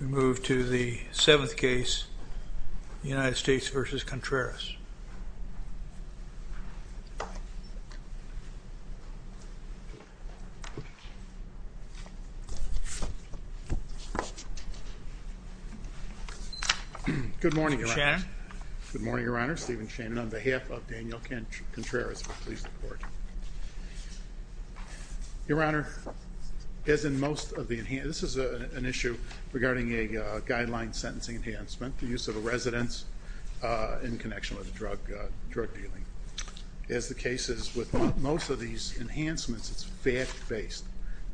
We move to the seventh case, United States v. Contreras. Good morning, Your Honor. Stephen Shannon. Good morning, Your Honor. Stephen Shannon on behalf of Daniel Contreras will please report. Your Honor, as in most of the enhancements, this is an issue regarding a guideline sentencing enhancement, the use of a residence in connection with a drug dealing. As the case is with most of these enhancements, it's fact-based.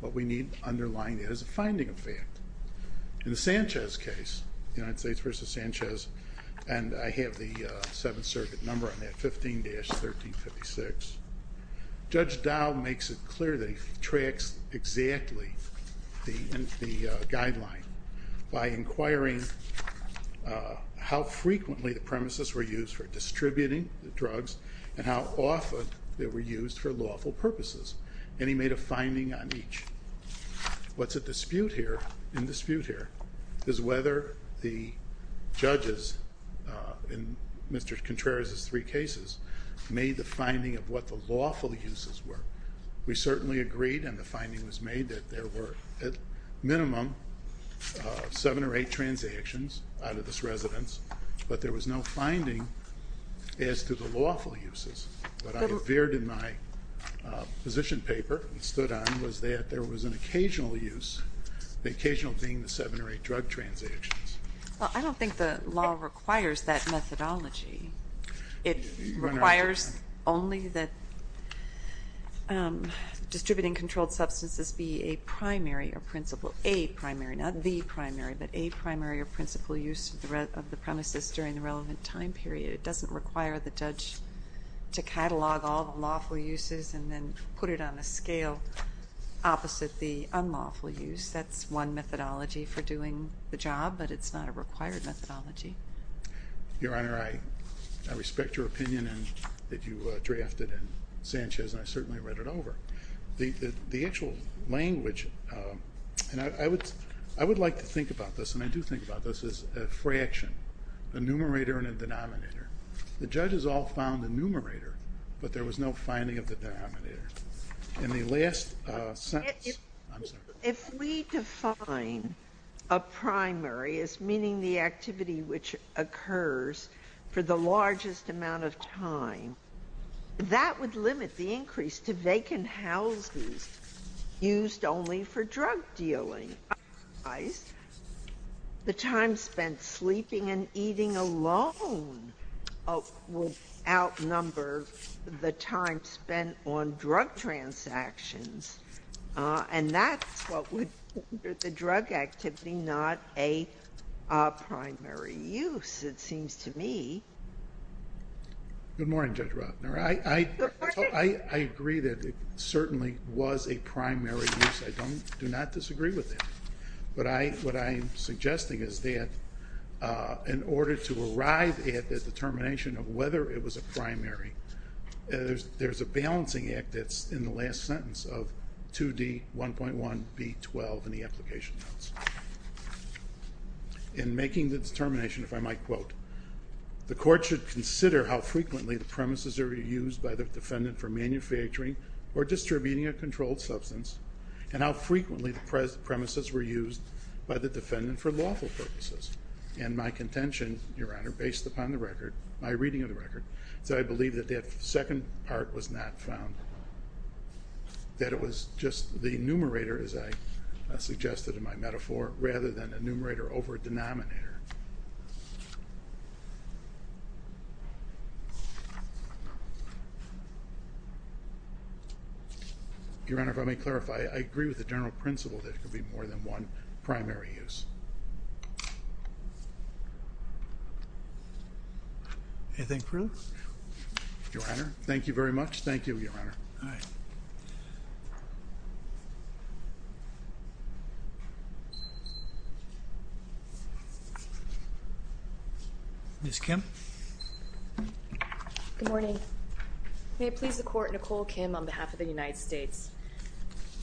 What we need to underline is a finding of fact. In the Sanchez case, United States v. Sanchez, and I have the Seventh Circuit number on that, 15-1356, Judge Dow makes it clear that he tracks exactly the guideline by inquiring how frequently the premises were used for distributing the drugs and how often they were used for lawful purposes. And he made a finding on each. What's at dispute here, in dispute here, is whether the judges in Mr. Contreras' three cases made the finding of what the lawful uses were. We certainly agreed, and the finding was made, that there were at minimum seven or eight transactions out of this residence, but there was no finding as to the lawful uses. What I revered in my position paper and stood on was that there was an occasional use, the occasional being the seven or eight drug transactions. Well, I don't think the law requires that methodology. It requires only that distributing controlled substances be a primary or principal, a primary, not the primary, but a primary or principal use of the premises during the relevant time period. It doesn't require the judge to catalog all the lawful uses and then put it on a scale opposite the unlawful use. That's one methodology for doing the job, but it's not a required methodology. Your Honor, I respect your opinion that you drafted in Sanchez, and I certainly read it over. The actual language, and I would like to think about this, and I do think about this, is a fraction, a numerator and a denominator. The judges all found the numerator, but there was no finding of the denominator. In the last sentence, I'm sorry. If we define a primary as meaning the activity which occurs for the largest amount of time, that would limit the increase to vacant houses used only for drug dealing. The time spent sleeping and eating alone would outnumber the time spent on drug transactions. And that's what would make the drug activity not a primary use, it seems to me. Good morning, Judge Rothner. I agree that it certainly was a primary use. I do not disagree with that. But what I'm suggesting is that in order to arrive at the determination of whether it was a primary, there's a balancing act that's in the last sentence of 2D1.1B12 in the application notes. In making the determination, if I might quote, the court should consider how frequently the premises are used by the defendant for manufacturing or distributing a controlled substance and how frequently the premises were used by the defendant for lawful purposes. And my contention, Your Honor, based upon the record, my reading of the record, is that I believe that that second part was not found. That it was just the numerator, as I suggested in my metaphor, rather than a numerator over a denominator. Your Honor, if I may clarify, I agree with the general principle that it could be more than one primary use. Anything further? Your Honor, thank you very much. Thank you, Your Honor. All right. Ms. Kim. Good morning. May it please the court, Nicole Kim on behalf of the United States.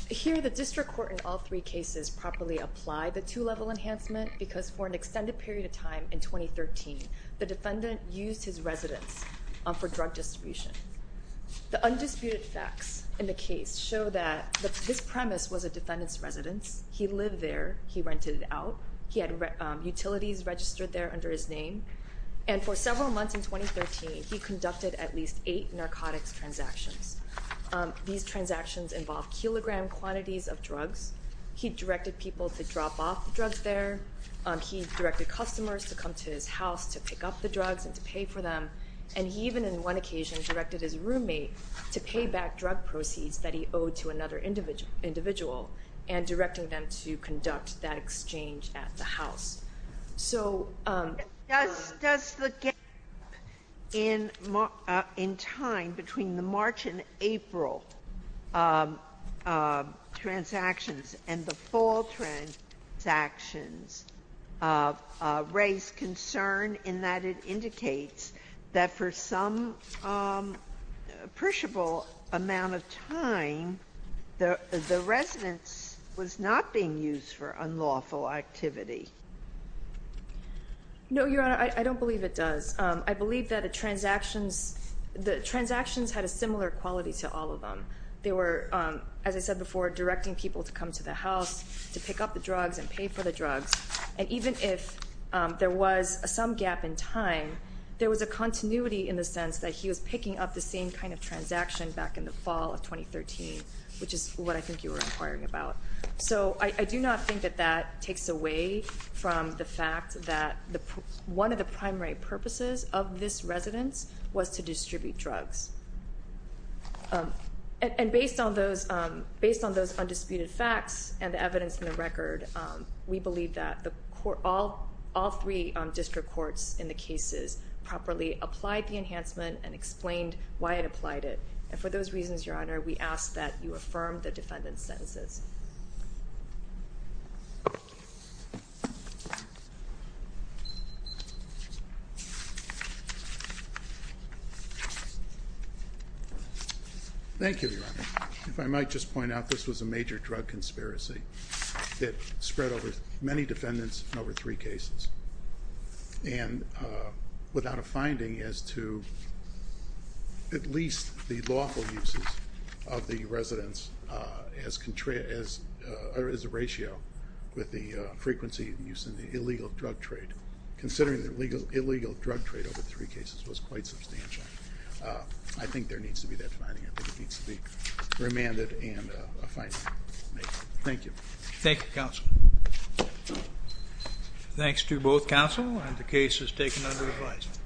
Here, the district court in all three cases properly applied the two-level enhancement because for an extended period of time in 2013, the defendant used his residence for drug distribution. The undisputed facts in the case show that his premise was a defendant's residence. He lived there. He rented it out. He had utilities registered there under his name. And for several months in 2013, he conducted at least eight narcotics transactions. These transactions involved kilogram quantities of drugs. He directed people to drop off drugs there. He directed customers to come to his house to pick up the drugs and to pay for them. And he even in one occasion directed his roommate to pay back drug proceeds that he owed to another individual and directing them to conduct that exchange at the house. Does the gap in time between the March and April transactions and the fall transactions raise concern in that it indicates that for some appreciable amount of time, the residence was not being used for unlawful activity? No, Your Honor. I don't believe it does. I believe that the transactions had a similar quality to all of them. They were, as I said before, directing people to come to the house to pick up the drugs and pay for the drugs. And even if there was some gap in time, there was a continuity in the sense that he was picking up the same kind of transaction back in the fall of 2013, which is what I think you were inquiring about. So I do not think that that takes away from the fact that one of the primary purposes of this residence was to distribute drugs. And based on those undisputed facts and the evidence in the record, we believe that all three district courts in the cases properly applied the enhancement and explained why it applied it. And for those reasons, Your Honor, we ask that you affirm the defendant's sentences. If I might just point out, this was a major drug conspiracy that spread over many defendants in over three cases and without a finding as to at least the lawful uses of the residence as a ratio with the frequency of use in the illegal drug trade, considering the illegal drug trade over three cases was quite substantial. I think there needs to be that finding. I think it needs to be remanded and a finding made. Thank you. Thank you, Counsel. Thanks to both counsel. And the case is taken under advisement.